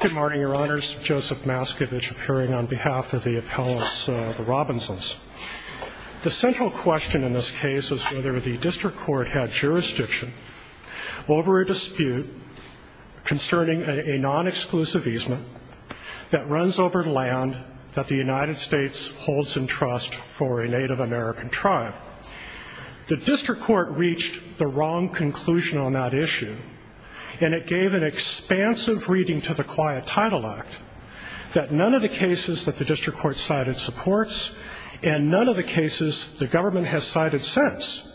Good morning, your honors. Joseph Maskevich appearing on behalf of the appellants of the Robinsons. The central question in this case is whether the district court had jurisdiction over a dispute concerning a non-exclusive easement that runs over land that the United States holds in trust for a Native American tribe. The district court reached the wrong conclusion on that issue, and it gave an expansive reading to the Quiet Title Act that none of the cases that the district court cited supports, and none of the cases the government has cited since.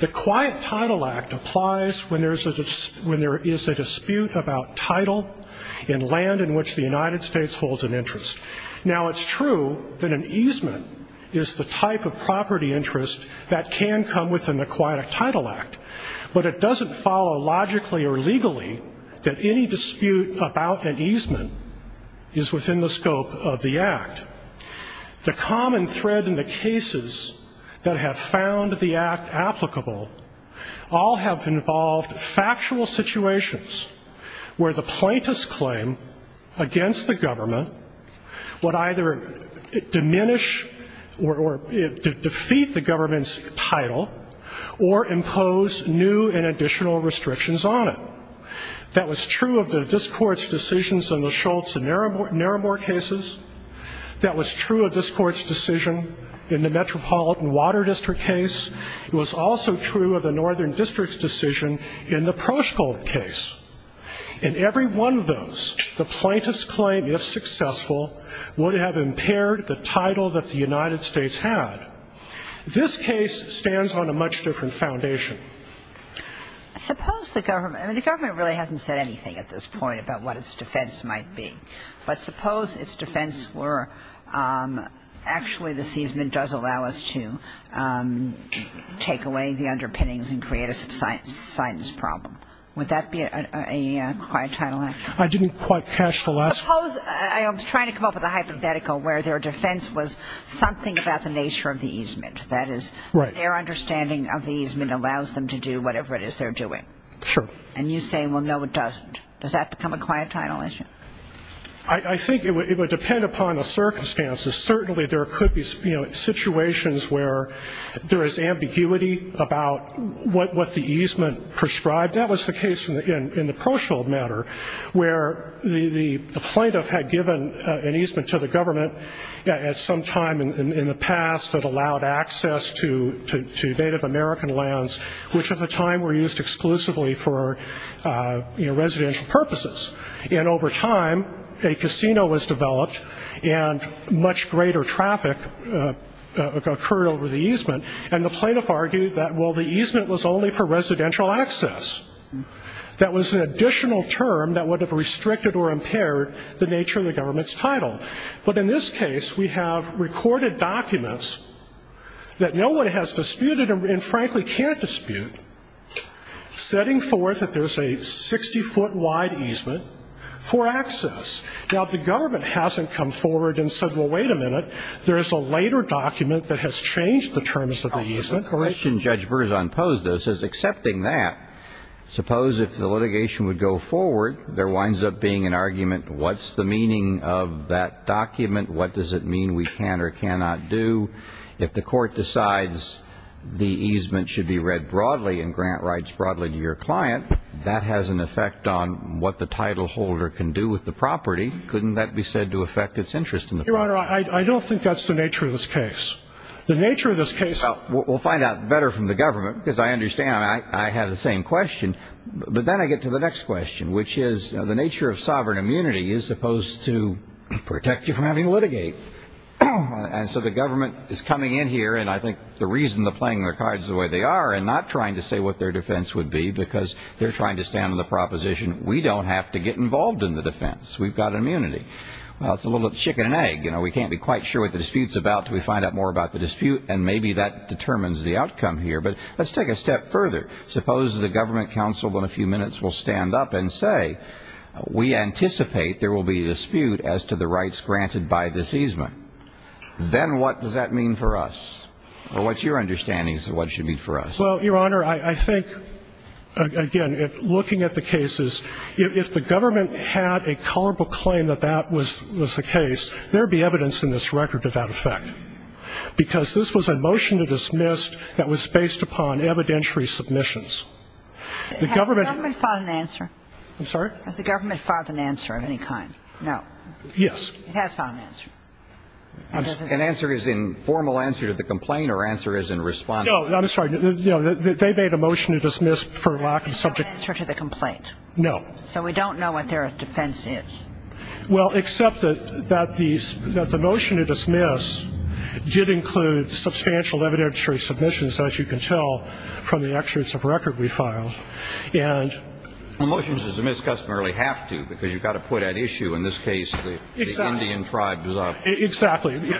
The Quiet Title Act applies when there is a dispute about title in land in which the United States holds an interest. Now it's true that an easement is the type of property interest that can come within the Quiet Title Act, but it doesn't follow logically or legally that any dispute about an easement is within the scope of the Act. The common thread in the cases that have found the Act applicable all have involved factual situations where the plaintiff's claim against the government would either diminish or defeat the government's title or impose new and additional restrictions on it. That was true of this court's decisions on the Schultz and Narimor cases. That was true of this court's decision in the Metropolitan Water District case. It was also true of the Northern District's decision in the Proshkul case. In every one of those, the plaintiff's claim, if successful, would have impaired the title that the United States had. This case stands on a much different foundation. I suppose the government, I mean, the government really hasn't said anything at this point about what its defense might be. But suppose its defense were actually the easement does allow us to take away the underpinnings and create a subsidence problem. Would that be a Quiet Title Act? I didn't quite catch the last one. I was trying to come up with a hypothetical where their defense was something about the nature of the easement. That is, their understanding of the easement allows them to do whatever it is they're doing. Sure. And you say, well, no, it doesn't. Does that become a Quiet Title issue? I think it would depend upon the circumstances. Certainly there could be situations where there is ambiguity about what the easement prescribed. That was the case in the Proshield matter, where the plaintiff had given an easement to the government at some time in the past that allowed access to Native American lands, which at the time were used exclusively for residential purposes. And over time, a casino was developed, and much greater traffic occurred over the easement. And the plaintiff argued that, well, the easement was only for residential access. That was an additional term that would have restricted or impaired the nature of the government's title. But in this case, we have recorded documents that no one has disputed and, frankly, can't dispute, setting forth that there's a 60-foot wide easement for access. Now, if the government hasn't come forward and said, well, wait a minute, there is a later document that has changed the terms of the easement. Correction. Judge Berzon posed this as accepting that. Suppose if the litigation would go forward, there winds up being an argument, what's the meaning of that document? What does it mean we can or cannot do? If the Court decides the easement should be read broadly and grant rights broadly to your client, that has an effect on what the titleholder can do with the property. Couldn't that be said to affect its interest in the property? Your Honor, I don't think that's the nature of this case. The nature of this case – Well, we'll find out better from the government because I understand. I have the same question. But then I get to the next question, which is the nature of sovereign immunity is supposed to protect you from having to litigate. And so the government is coming in here, and I think the reason they're playing their cards the way they are and not trying to say what their defense would be because they're trying to stand on the proposition, we don't have to get involved in the defense. We've got immunity. Well, it's a little bit of chicken and egg. You know, we can't be quite sure what the dispute's about until we find out more about the dispute, and maybe that determines the outcome here. But let's take it a step further. Suppose the government counsel in a few minutes will stand up and say, we anticipate there will be a dispute as to the rights granted by this easement. Then what does that mean for us? Or what's your understanding as to what it should mean for us? Well, Your Honor, I think, again, looking at the cases, if the government had a culpable claim that that was the case, there would be evidence in this record of that effect, because this was a motion to dismiss that was based upon evidentiary submissions. Has the government filed an answer? I'm sorry? Has the government filed an answer of any kind? No. Yes. It has filed an answer. An answer is in formal answer to the complaint or answer is in response? No, I'm sorry. They made a motion to dismiss for lack of subject to the complaint. No. So we don't know what their defense is. Well, except that the motion to dismiss did include substantial evidentiary submissions, as you can tell from the excerpts of record we filed. And the motions to dismiss customarily have to, because you've got to put at issue, in this case, the Indian tribe. Exactly. There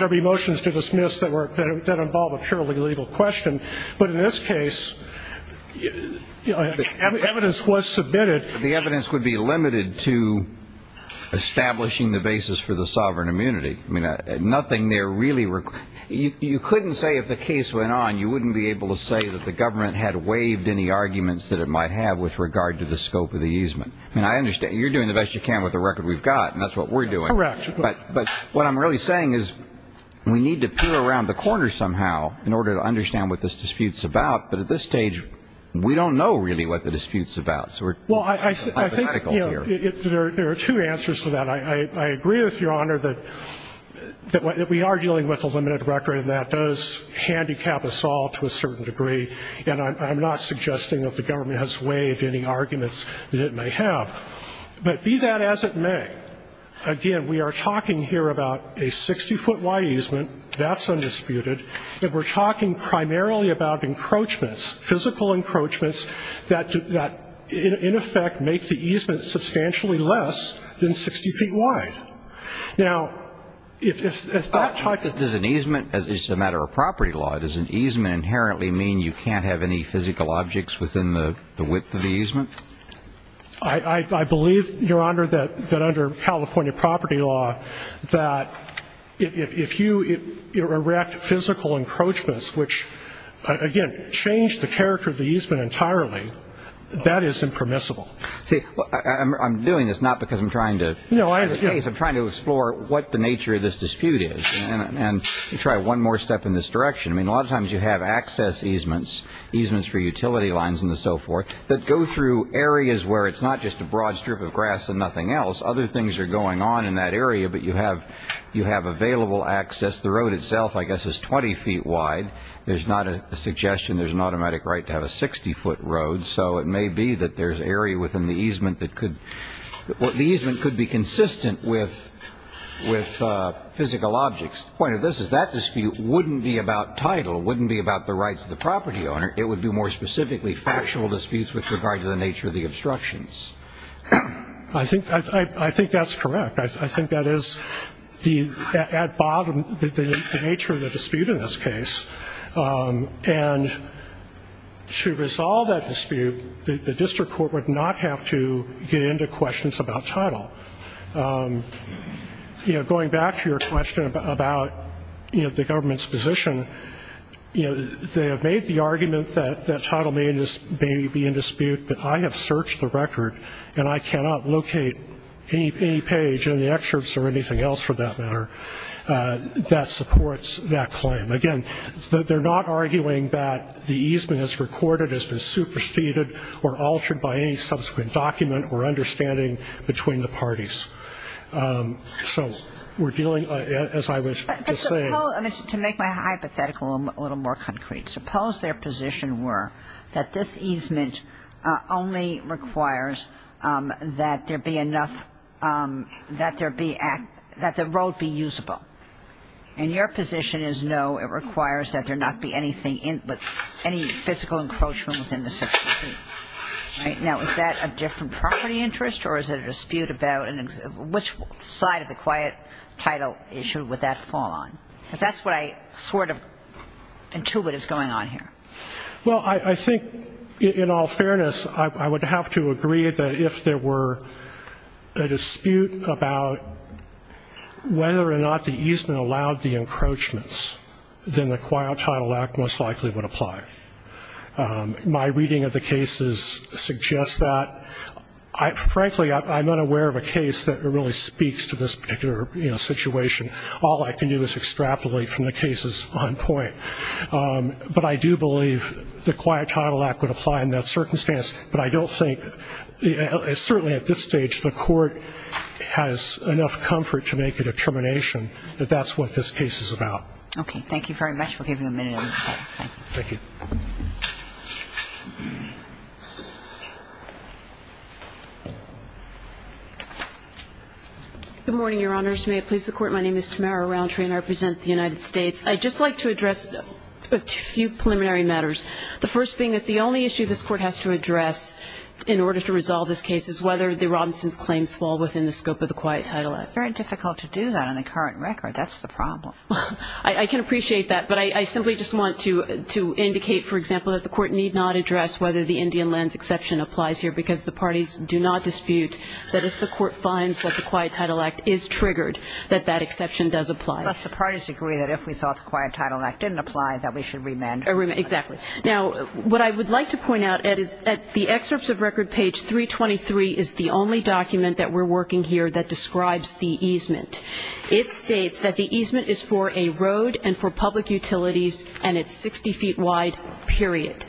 will be motions to dismiss that involve a purely legal question. But in this case, evidence was submitted. The evidence would be limited to establishing the basis for the sovereign immunity. I mean, nothing there really you couldn't say if the case went on, you wouldn't be able to say that the government had waived any arguments that it might have with regard to the scope of the easement. I mean, I understand. You're doing the best you can with the record we've got, and that's what we're doing. Correct. But what I'm really saying is we need to peer around the corner somehow in order to understand what this dispute's about. But at this stage, we don't know really what the dispute's about. Well, I think there are two answers to that. I agree with Your Honor that we are dealing with a limited record, and that does handicap us all to a certain degree. And I'm not suggesting that the government has waived any arguments that it may have. But be that as it may, again, we are talking here about a 60-foot wide easement. That's undisputed. And we're talking primarily about encroachments, physical encroachments, that in effect make the easement substantially less than 60 feet wide. Now, if that type of – Does an easement, as a matter of property law, does an easement inherently mean you can't have any physical objects within the width of the easement? I believe, Your Honor, that under California property law, that if you erect physical encroachments, which, again, change the character of the easement entirely, that is impermissible. See, I'm doing this not because I'm trying to – No, I – I'm trying to explore what the nature of this dispute is and try one more step in this direction. I mean, a lot of times you have access easements, easements for utility lines and so forth, that go through areas where it's not just a broad strip of grass and nothing else. Other things are going on in that area, but you have available access. The road itself, I guess, is 20 feet wide. There's not a suggestion there's an automatic right to have a 60-foot road, so it may be that there's an area within the easement that could – the easement could be consistent with physical objects. The point of this is that dispute wouldn't be about title, wouldn't be about the rights of the property owner. It would be more specifically factual disputes with regard to the nature of the obstructions. I think that's correct. I think that is at bottom the nature of the dispute in this case. And to resolve that dispute, the district court would not have to get into questions about title. Going back to your question about the government's position, they have made the argument that title may be in dispute, but I have searched the record and I cannot locate any page in the excerpts or anything else for that matter that supports that claim. Again, they're not arguing that the easement as recorded has been superseded or altered by any subsequent document or understanding between the parties. So we're dealing, as I was just saying – But suppose – to make my hypothetical a little more concrete, suppose their position were that this easement only requires that there be enough – that there be – that the road be usable. And your position is no, it requires that there not be anything in – any physical encroachment within the 16 feet. Now, is that a different property interest or is it a dispute about which side of the quiet title issue would that fall on? Because that's what I sort of intuit is going on here. Well, I think, in all fairness, I would have to agree that if there were a dispute about whether or not the easement allowed the encroachments, then the Quiet Title Act most likely would apply. My reading of the cases suggests that. Frankly, I'm not aware of a case that really speaks to this particular situation. All I can do is extrapolate from the cases on point. But I do believe the Quiet Title Act would apply in that circumstance. But I don't think – certainly at this stage, the Court has enough comfort to make a determination that that's what this case is about. Okay. Thank you very much for giving a minute of your time. Thank you. Good morning, Your Honors. May it please the Court, my name is Tamara Rountree and I represent the United States. I'd just like to address a few preliminary matters, the first being that the only issue this Court has to address in order to resolve this case is whether the Robinsons claims fall within the scope of the Quiet Title Act. It's very difficult to do that on the current record. That's the problem. I can appreciate that. But I simply just want to indicate, for example, that the Court need not address whether the Indian lands exception applies here because the parties do not dispute that if the Court finds that the Quiet Title Act is triggered, that that exception does apply. Plus the parties agree that if we thought the Quiet Title Act didn't apply, that we should remand. Exactly. Now, what I would like to point out, Ed, is that the excerpts of record page 323 is the only document that we're working here that describes the easement. It states that the easement is for a road and for public utilities and it's 60 feet wide, period.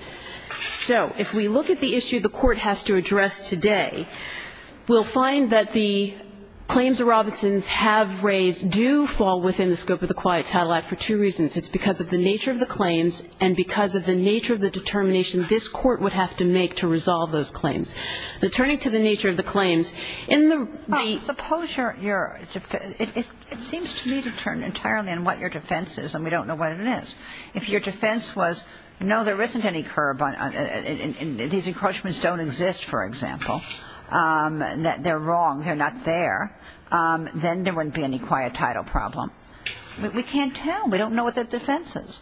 So if we look at the issue the Court has to address today, we'll find that the claims the Robinsons have raised do fall within the scope of the Quiet Title Act for two reasons. It's because of the nature of the claims and because of the nature of the determination this Court would have to make to resolve those claims. Turning to the nature of the claims, in the ---- Suppose your ---- it seems to me to turn entirely on what your defense is and we don't know what it is. If your defense was, no, there isn't any curb on ---- and these encroachments don't exist, for example, that they're wrong, they're not there, then there wouldn't be any quiet title problem. We can't tell. We don't know what the defense is.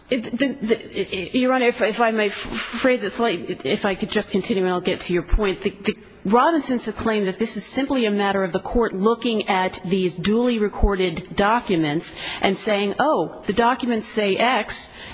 Your Honor, if I may phrase it slightly, if I could just continue and I'll get to your point. The Robinsons have claimed that this is simply a matter of the Court looking at these documents say X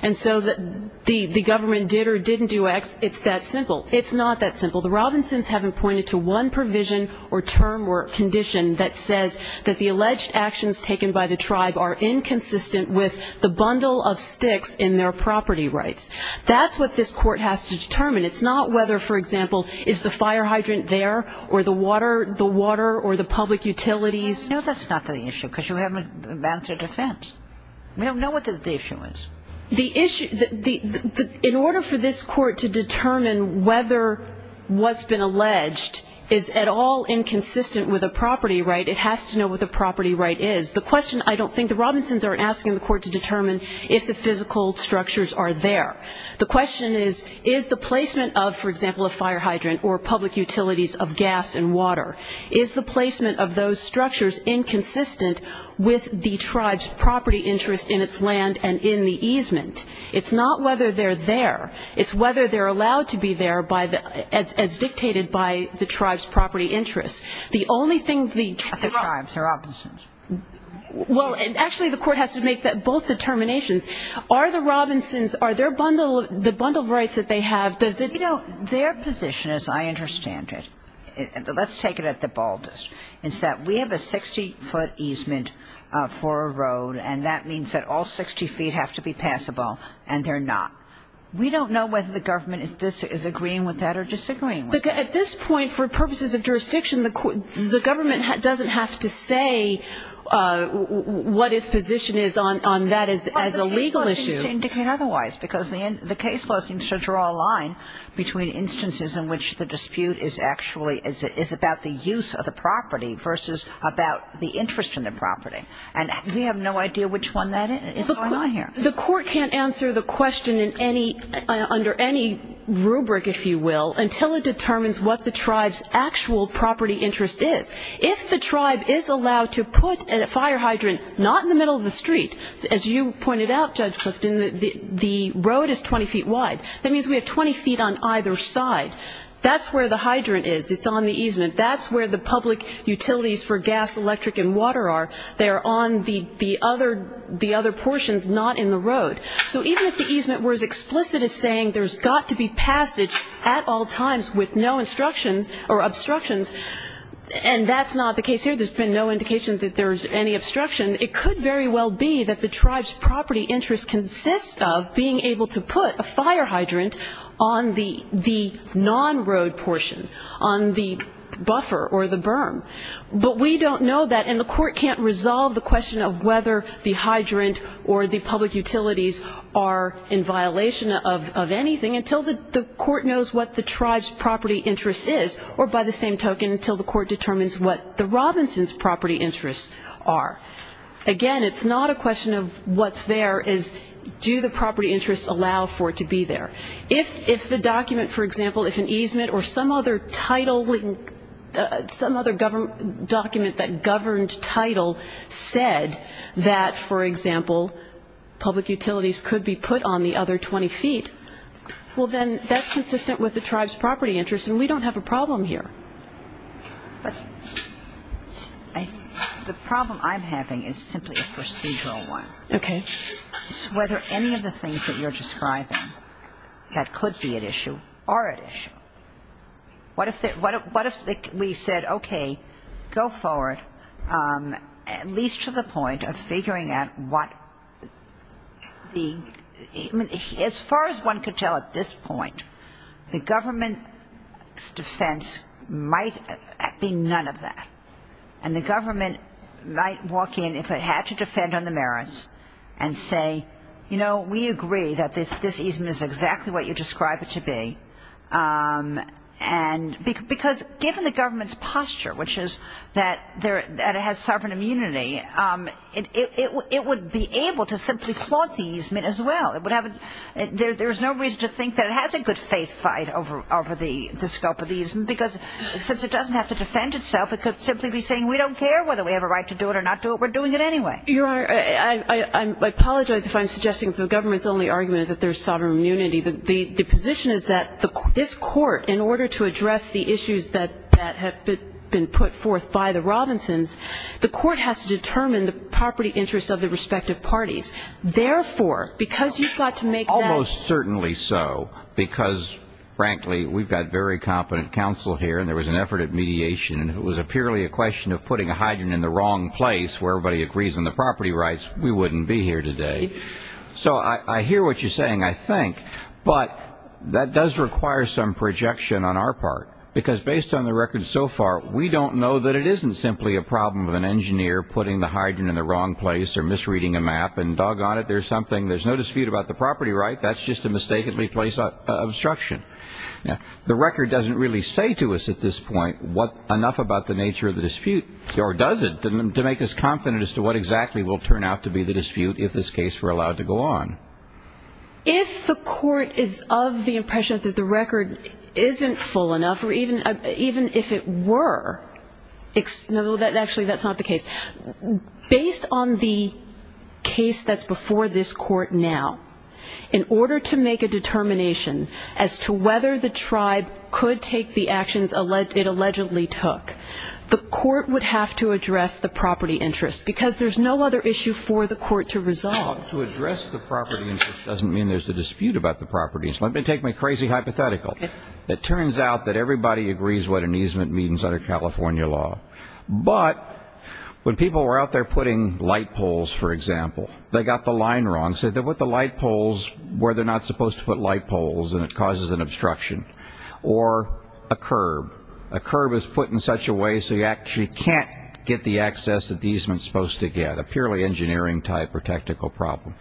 and so the government did or didn't do X, it's that simple. It's not that simple. The Robinsons haven't pointed to one provision or term or condition that says that the alleged actions taken by the tribe are inconsistent with the bundle of sticks in their property rights. That's what this Court has to determine. It's not whether, for example, is the fire hydrant there or the water or the public utilities. No, that's not the issue because you haven't advanced a defense. We don't know what the issue is. The issue, in order for this Court to determine whether what's been alleged is at all inconsistent with a property right, it has to know what the property right is. The question, I don't think the Robinsons are asking the Court to determine if the physical structures are there. The question is, is the placement of, for example, a fire hydrant or public utilities of gas and water, is the placement of those structures inconsistent with the tribe's property interest in its land and in the easement? It's not whether they're there. It's whether they're allowed to be there by the – as dictated by the tribe's property interest. The only thing the tribe – But the tribes, the Robinsons. Well, and actually the Court has to make both determinations. Are the Robinsons, are their bundle of – the bundled rights that they have, does You know, their position, as I understand it, let's take it at the baldest. It's that we have a 60-foot easement for a road, and that means that all 60 feet have to be passable, and they're not. We don't know whether the government is agreeing with that or disagreeing with that. But at this point, for purposes of jurisdiction, the Government doesn't have to say what its position is on that as a legal issue. Well, the case law seems to indicate otherwise, because the case law seems to draw a line between instances in which the dispute is actually – is about the use of the property versus about the interest in the property. And we have no idea which one that is going on here. The Court can't answer the question in any – under any rubric, if you will, until it determines what the tribe's actual property interest is. If the tribe is allowed to put a fire hydrant not in the middle of the street, as you pointed out, Judge Clifton, the road is 20 feet wide. That means we have 20 feet on either side. That's where the hydrant is. It's on the easement. That's where the public utilities for gas, electric, and water are. They are on the other portions, not in the road. So even if the easement were as explicit as saying there's got to be passage at all times with no instructions or obstructions, and that's not the case here. There's been no indication that there's any obstruction. It could very well be that the tribe's property interest consists of being able to put a fire hydrant on the non-road portion, on the buffer or the berm. But we don't know that, and the Court can't resolve the question of whether the hydrant or the public utilities are in violation of anything until the Court knows what the tribe's property interest is, or by the same token until the Court determines what the Robinson's property interests are. Again, it's not a question of what's there. It's do the property interests allow for it to be there. If the document, for example, if an easement or some other title, some other document that governed title said that, for example, public utilities could be put on the other 20 feet, well, then that's consistent with the tribe's property interest, and we don't have a problem here. But the problem I'm having is simply a procedural one. Okay. It's whether any of the things that you're describing that could be at issue are at issue. What if we said, okay, go forward at least to the point of figuring out what the ‑‑ might be none of that, and the government might walk in if it had to defend on the merits and say, you know, we agree that this easement is exactly what you describe it to be, because given the government's posture, which is that it has sovereign immunity, it would be able to simply flaunt the easement as well. There's no reason to think that it has a good faith fight over the scope of the easement, because since it doesn't have to defend itself, it could simply be saying we don't care whether we have a right to do it or not do it. We're doing it anyway. Your Honor, I apologize if I'm suggesting the government's only argument is that there's sovereign immunity. The position is that this court, in order to address the issues that have been put forth by the Robinsons, the court has to determine the property interests of the respective parties. Therefore, because you've got to make that ‑‑ and there was an effort at mediation, and it was purely a question of putting a hydrant in the wrong place where everybody agrees on the property rights, we wouldn't be here today. So I hear what you're saying, I think. But that does require some projection on our part, because based on the record so far, we don't know that it isn't simply a problem of an engineer putting the hydrant in the wrong place or misreading a map, and doggone it, there's no dispute about the property right. That's just a mistakenly placed obstruction. Now, the record doesn't really say to us at this point enough about the nature of the dispute, or does it, to make us confident as to what exactly will turn out to be the dispute if this case were allowed to go on. If the court is of the impression that the record isn't full enough, or even if it were ‑‑ no, actually, that's not the case. Based on the case that's before this court now, in order to make a determination as to whether the tribe could take the actions it allegedly took, the court would have to address the property interest, because there's no other issue for the court to resolve. To address the property interest doesn't mean there's a dispute about the property. Let me take my crazy hypothetical. It turns out that everybody agrees what an easement means under California law. But when people were out there putting light poles, for example, they got the line wrong, said they put the light poles where they're not supposed to put light poles, and it causes an obstruction. Or a curb. A curb is put in such a way so you actually can't get the access that the easement's supposed to get, a purely engineering type or technical problem.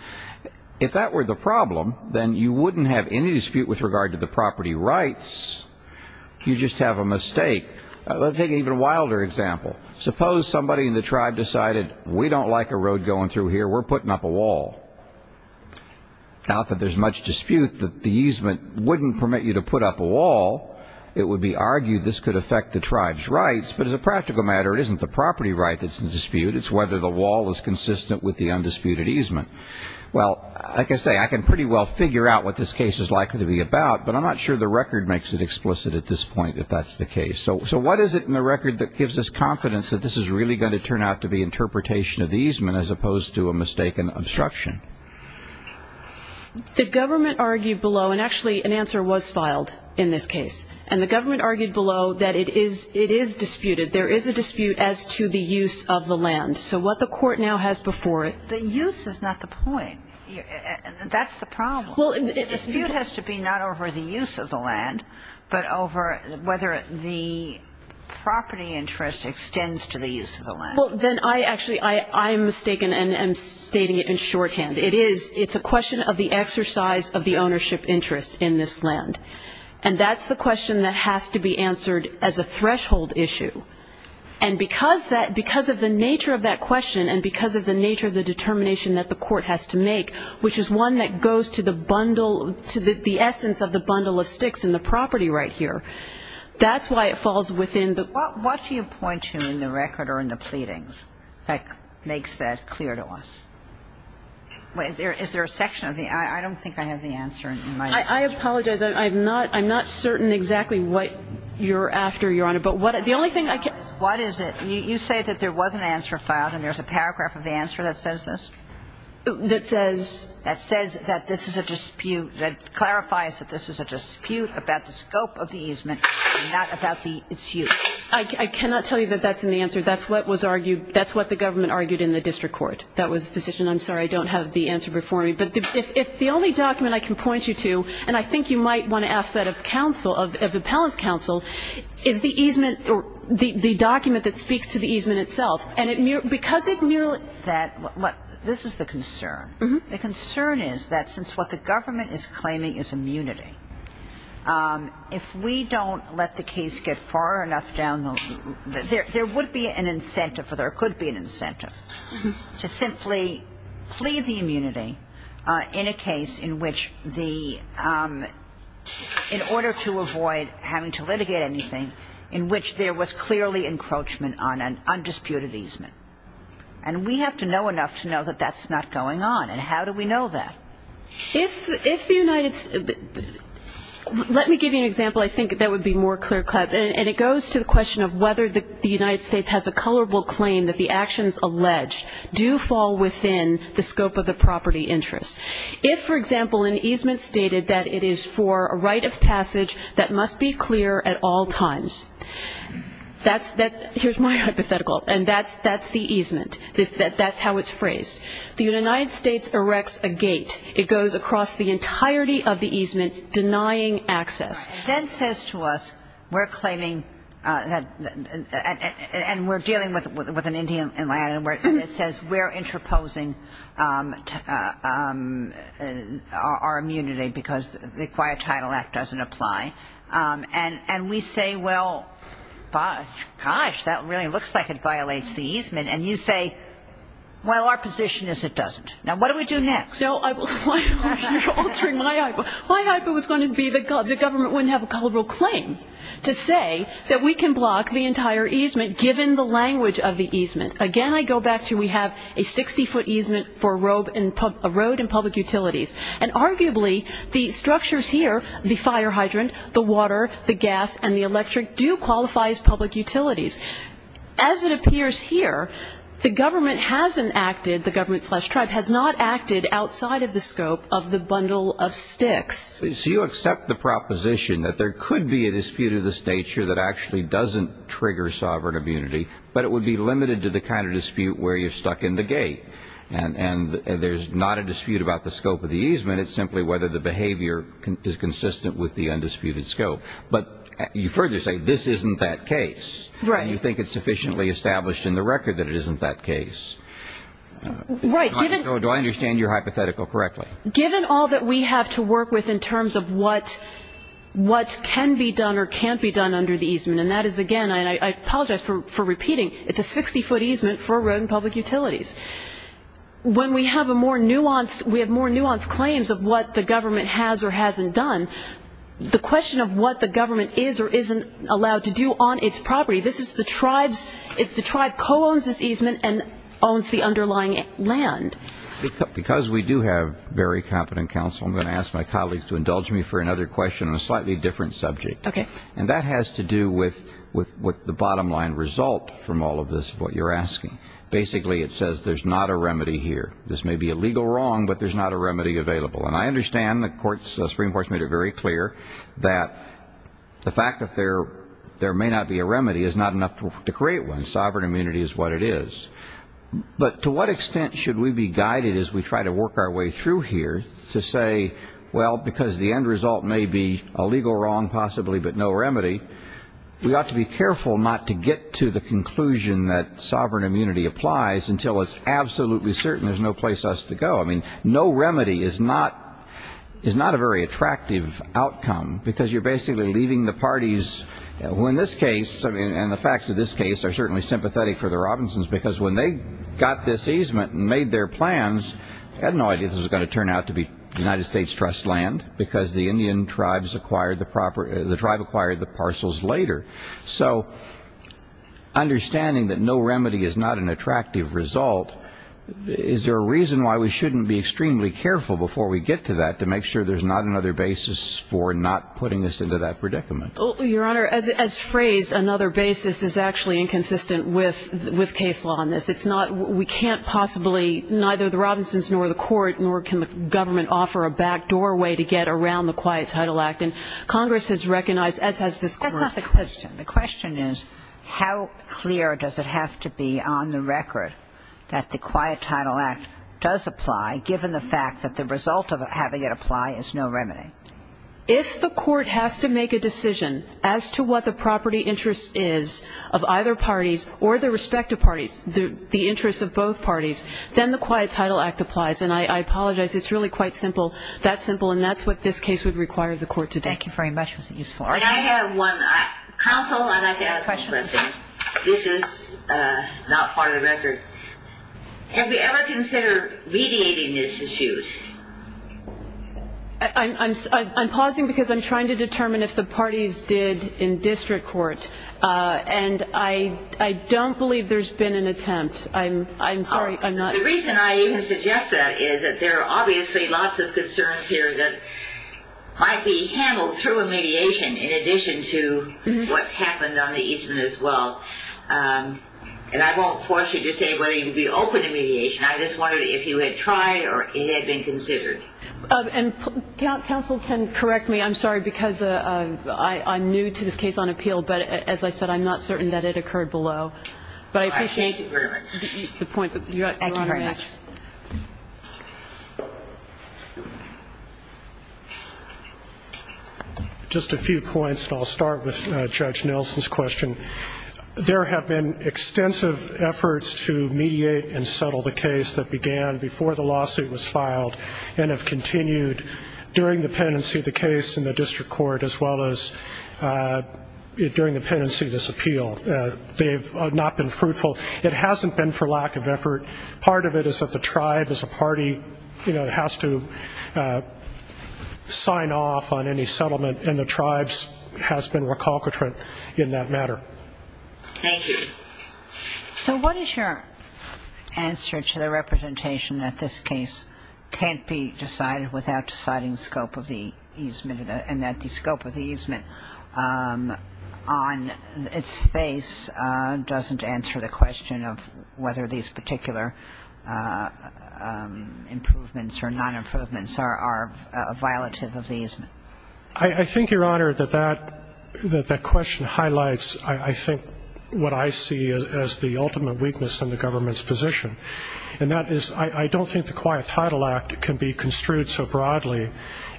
If that were the problem, then you wouldn't have any dispute with regard to the property rights. You just have a mistake. Let me take an even wilder example. Suppose somebody in the tribe decided we don't like a road going through here. We're putting up a wall. Now that there's much dispute that the easement wouldn't permit you to put up a wall, it would be argued this could affect the tribe's rights. But as a practical matter, it isn't the property right that's in dispute. It's whether the wall is consistent with the undisputed easement. Well, like I say, I can pretty well figure out what this case is likely to be about, but I'm not sure the record makes it explicit at this point that that's the case. So what is it in the record that gives us confidence that this is really going to turn out to be interpretation of the easement as opposed to a mistaken obstruction? The government argued below, and actually an answer was filed in this case, and the government argued below that it is disputed. There is a dispute as to the use of the land. So what the court now has before it ---- The use is not the point. That's the problem. The dispute has to be not over the use of the land, but over whether the property interest extends to the use of the land. Well, then I actually am mistaken and I'm stating it in shorthand. It's a question of the exercise of the ownership interest in this land. And that's the question that has to be answered as a threshold issue. And because of the nature of that question and because of the nature of the determination that the court has to make, which is one that goes to the bundle, to the essence of the bundle of sticks in the property right here, that's why it falls within the ---- What do you point to in the record or in the pleadings that makes that clear to us? Is there a section of the ---- I don't think I have the answer in my ---- I apologize. I'm not certain exactly what you're after, Your Honor. But the only thing I can ---- What is it? You say that there was an answer filed and there's a paragraph of the answer that says this? That says that this is a dispute, that clarifies that this is a dispute about the scope of the easement and not about the issue. I cannot tell you that that's an answer. That's what was argued ---- that's what the government argued in the district court. That was the position. I'm sorry, I don't have the answer before me. But if the only document I can point you to, and I think you might want to ask that of counsel, of appellant's counsel, is the easement or the document that speaks to the easement itself. And because it ---- This is the concern. The concern is that since what the government is claiming is immunity, if we don't let the case get far enough down the ---- there would be an incentive or there could be an incentive to simply plead the immunity in a case in which the ---- in order to avoid having to litigate anything, in which there was clearly encroachment on an undisputed easement. And we have to know enough to know that that's not going on. And how do we know that? If the United ---- let me give you an example I think that would be more clear. And it goes to the question of whether the United States has a colorable claim that the actions alleged do fall within the scope of the property interest. If, for example, an easement stated that it is for a right of passage that must be clear at all times, that's the ---- here's my hypothetical, and that's the easement. That's how it's phrased. The United States erects a gate. It goes across the entirety of the easement denying access. It then says to us we're claiming that ---- and we're dealing with an Indian land, and it says we're interposing our immunity because the Quiet Title Act doesn't apply. And we say, well, gosh, that really looks like it violates the easement. And you say, well, our position is it doesn't. Now, what do we do next? You're altering my hypo. My hypo was going to be the government wouldn't have a colorable claim to say that we can block the entire easement given the language of the easement. Again, I go back to we have a 60-foot easement for a road and public utilities. And arguably the structures here, the fire hydrant, the water, the gas, and the electric, do qualify as public utilities. As it appears here, the government hasn't acted, the government slash tribe, has not acted outside of the scope of the bundle of sticks. So you accept the proposition that there could be a dispute of this nature that actually doesn't trigger sovereign immunity, but it would be limited to the kind of dispute where you're stuck in the gate. And there's not a dispute about the scope of the easement. It's simply whether the behavior is consistent with the undisputed scope. But you further say this isn't that case. And you think it's sufficiently established in the record that it isn't that case. Do I understand your hypothetical correctly? Given all that we have to work with in terms of what can be done or can't be done under the easement, and that is, again, I apologize for repeating, it's a 60-foot easement for a road and public utilities. When we have more nuanced claims of what the government has or hasn't done, the question of what the government is or isn't allowed to do on its property, the tribe co-owns this easement and owns the underlying land. Because we do have very competent counsel, I'm going to ask my colleagues to indulge me for another question on a slightly different subject. Okay. And that has to do with the bottom-line result from all of this of what you're asking. Basically, it says there's not a remedy here. This may be a legal wrong, but there's not a remedy available. And I understand the Supreme Court has made it very clear that the fact that there may not be a remedy is not enough to create one. Sovereign immunity is what it is. But to what extent should we be guided as we try to work our way through here to say, well, because the end result may be a legal wrong, possibly, but no remedy, we ought to be careful not to get to the conclusion that sovereign immunity applies until it's absolutely certain there's no place for us to go. I mean, no remedy is not a very attractive outcome because you're basically leaving the parties, who in this case and the facts of this case are certainly sympathetic for the Robinsons because when they got this easement and made their plans, they had no idea this was going to turn out to be United States trust land because the Indian tribes acquired the parcels later. So understanding that no remedy is not an attractive result, is there a reason why we shouldn't be extremely careful before we get to that to make sure there's not another basis for not putting us into that predicament? Your Honor, as phrased, another basis is actually inconsistent with case law on this. It's not we can't possibly, neither the Robinsons nor the court, nor can the government offer a back doorway to get around the Quiet Title Act. And Congress has recognized, as has this Court. That's not the question. The question is how clear does it have to be on the record that the Quiet Title Act does apply, given the fact that the result of having it apply is no remedy? If the court has to make a decision as to what the property interest is of either parties or the respective parties, the interests of both parties, then the Quiet Title Act applies. And I apologize. It's really quite simple, that simple. And that's what this case would require the court to do. Thank you very much. And I have one. Counsel, I'd like to ask a question. This is not part of the record. Have you ever considered mediating this issue? I'm pausing because I'm trying to determine if the parties did in district court. And I don't believe there's been an attempt. I'm sorry, I'm not. The reason I even suggest that is that there are obviously lots of concerns here that might be handled through a mediation in addition to what's happened on the Eastman as well. And I won't force you to say whether you'd be open to mediation. I just wondered if you had tried or if it had been considered. And counsel can correct me. I'm sorry because I'm new to this case on appeal. But as I said, I'm not certain that it occurred below. Thank you very much. The point that you're on next. Thank you very much. Just a few points, and I'll start with Judge Nilsen's question. There have been extensive efforts to mediate and settle the case that began before the lawsuit was filed and have continued during the pendency of the case in the district court as well as during the pendency of this appeal. They have not been fruitful. It hasn't been for lack of effort. Part of it is that the tribe as a party has to sign off on any settlement, and the tribe has been recalcitrant in that matter. Thank you. So what is your answer to the representation that this case can't be decided without deciding the scope of the easement and that the scope of the easement on its face doesn't answer the question of whether these particular improvements or non-improvements are a violative of the easement? I think, Your Honor, that that question highlights, I think, what I see as the ultimate weakness in the government's position, and that is I don't think the Quiet Title Act can be construed so broadly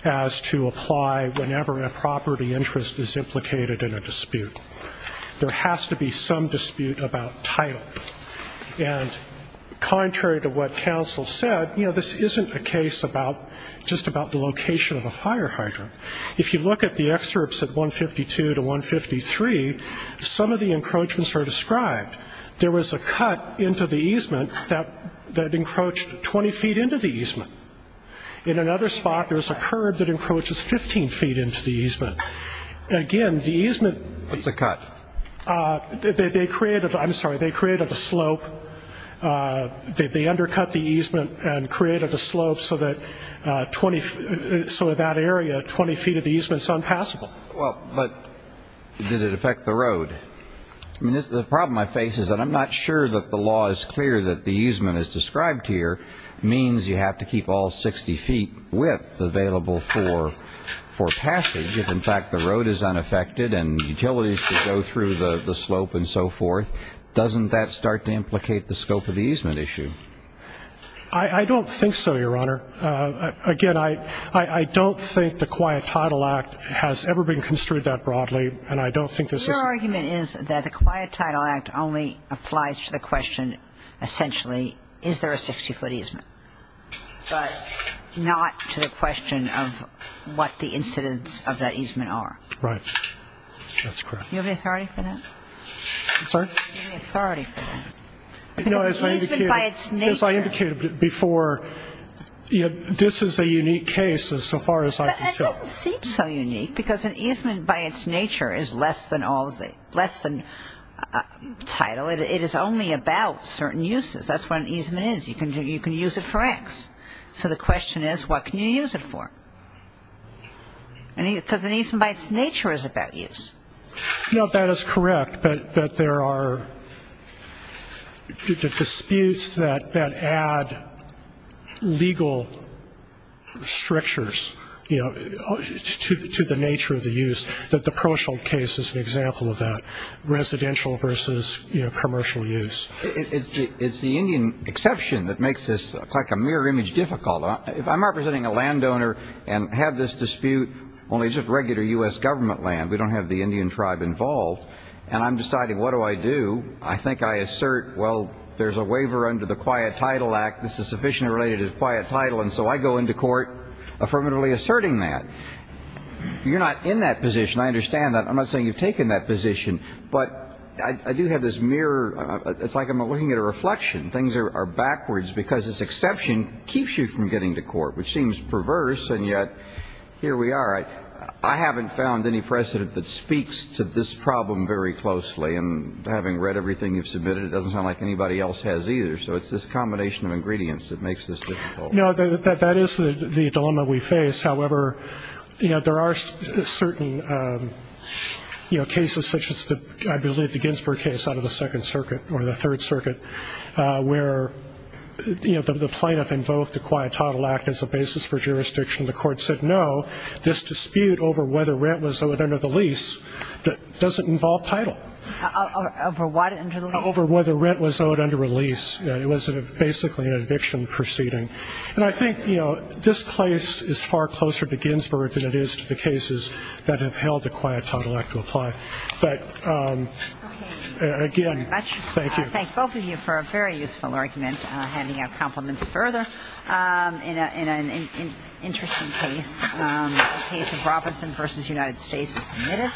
as to apply whenever a property interest is implicated in a dispute. There has to be some dispute about title. And contrary to what counsel said, you know, this isn't a case just about the location of a fire hydrant. If you look at the excerpts at 152 to 153, some of the encroachments are described. There was a cut into the easement that encroached 20 feet into the easement. In another spot, there was a curb that encroaches 15 feet into the easement. Again, the easement. What's a cut? They created a slope. They undercut the easement and created a slope so that area, 20 feet of the easement is unpassable. Well, but did it affect the road? The problem I face is that I'm not sure that the law is clear that the easement as described here means you have to keep all 60 feet width available for passage. If, in fact, the road is unaffected and utilities can go through the slope and so forth, doesn't that start to implicate the scope of the easement issue? I don't think so, Your Honor. Again, I don't think the Quiet Title Act has ever been construed that broadly, and I don't think this is. Your argument is that the Quiet Title Act only applies to the question, essentially, is there a 60-foot easement, but not to the question of what the incidence of that easement are. Right. That's correct. Do you have the authority for that? I'm sorry? Do you have the authority for that? No, as I indicated before, this is a unique case so far as I can tell. It doesn't seem so unique because an easement by its nature is less than title. It is only about certain uses. That's what an easement is. You can use it for X. So the question is, what can you use it for? Because an easement by its nature is about use. No, that is correct, but there are disputes that add legal strictures to the nature of the use. The Proshield case is an example of that, residential versus commercial use. It's the Indian exception that makes this like a mirror image difficult. If I'm representing a landowner and have this dispute only just regular U.S. government land, we don't have the Indian tribe involved, and I'm deciding what do I do? I think I assert, well, there's a waiver under the Quiet Title Act. This is sufficiently related to the Quiet Title, and so I go into court affirmatively asserting that. You're not in that position. I understand that. I'm not saying you've taken that position, but I do have this mirror. It's like I'm looking at a reflection. Things are backwards because this exception keeps you from getting to court, which seems perverse, and yet here we are. All right. I haven't found any precedent that speaks to this problem very closely, and having read everything you've submitted, it doesn't sound like anybody else has either, so it's this combination of ingredients that makes this difficult. No, that is the dilemma we face. However, there are certain cases such as, I believe, the Ginsberg case out of the Second Circuit or the Third Circuit, where the plaintiff invoked the Quiet Title Act as a basis for jurisdiction. The court said, no, this dispute over whether rent was owed under the lease doesn't involve title. Over what under the lease? Over whether rent was owed under a lease. It was basically an eviction proceeding. And I think, you know, this place is far closer to Ginsberg than it is to the cases that have held the Quiet Title Act to apply. But, again, thank you. I thank both of you for a very useful argument, handing out compliments further. In an interesting case, the case of Robinson v. United States is submitted.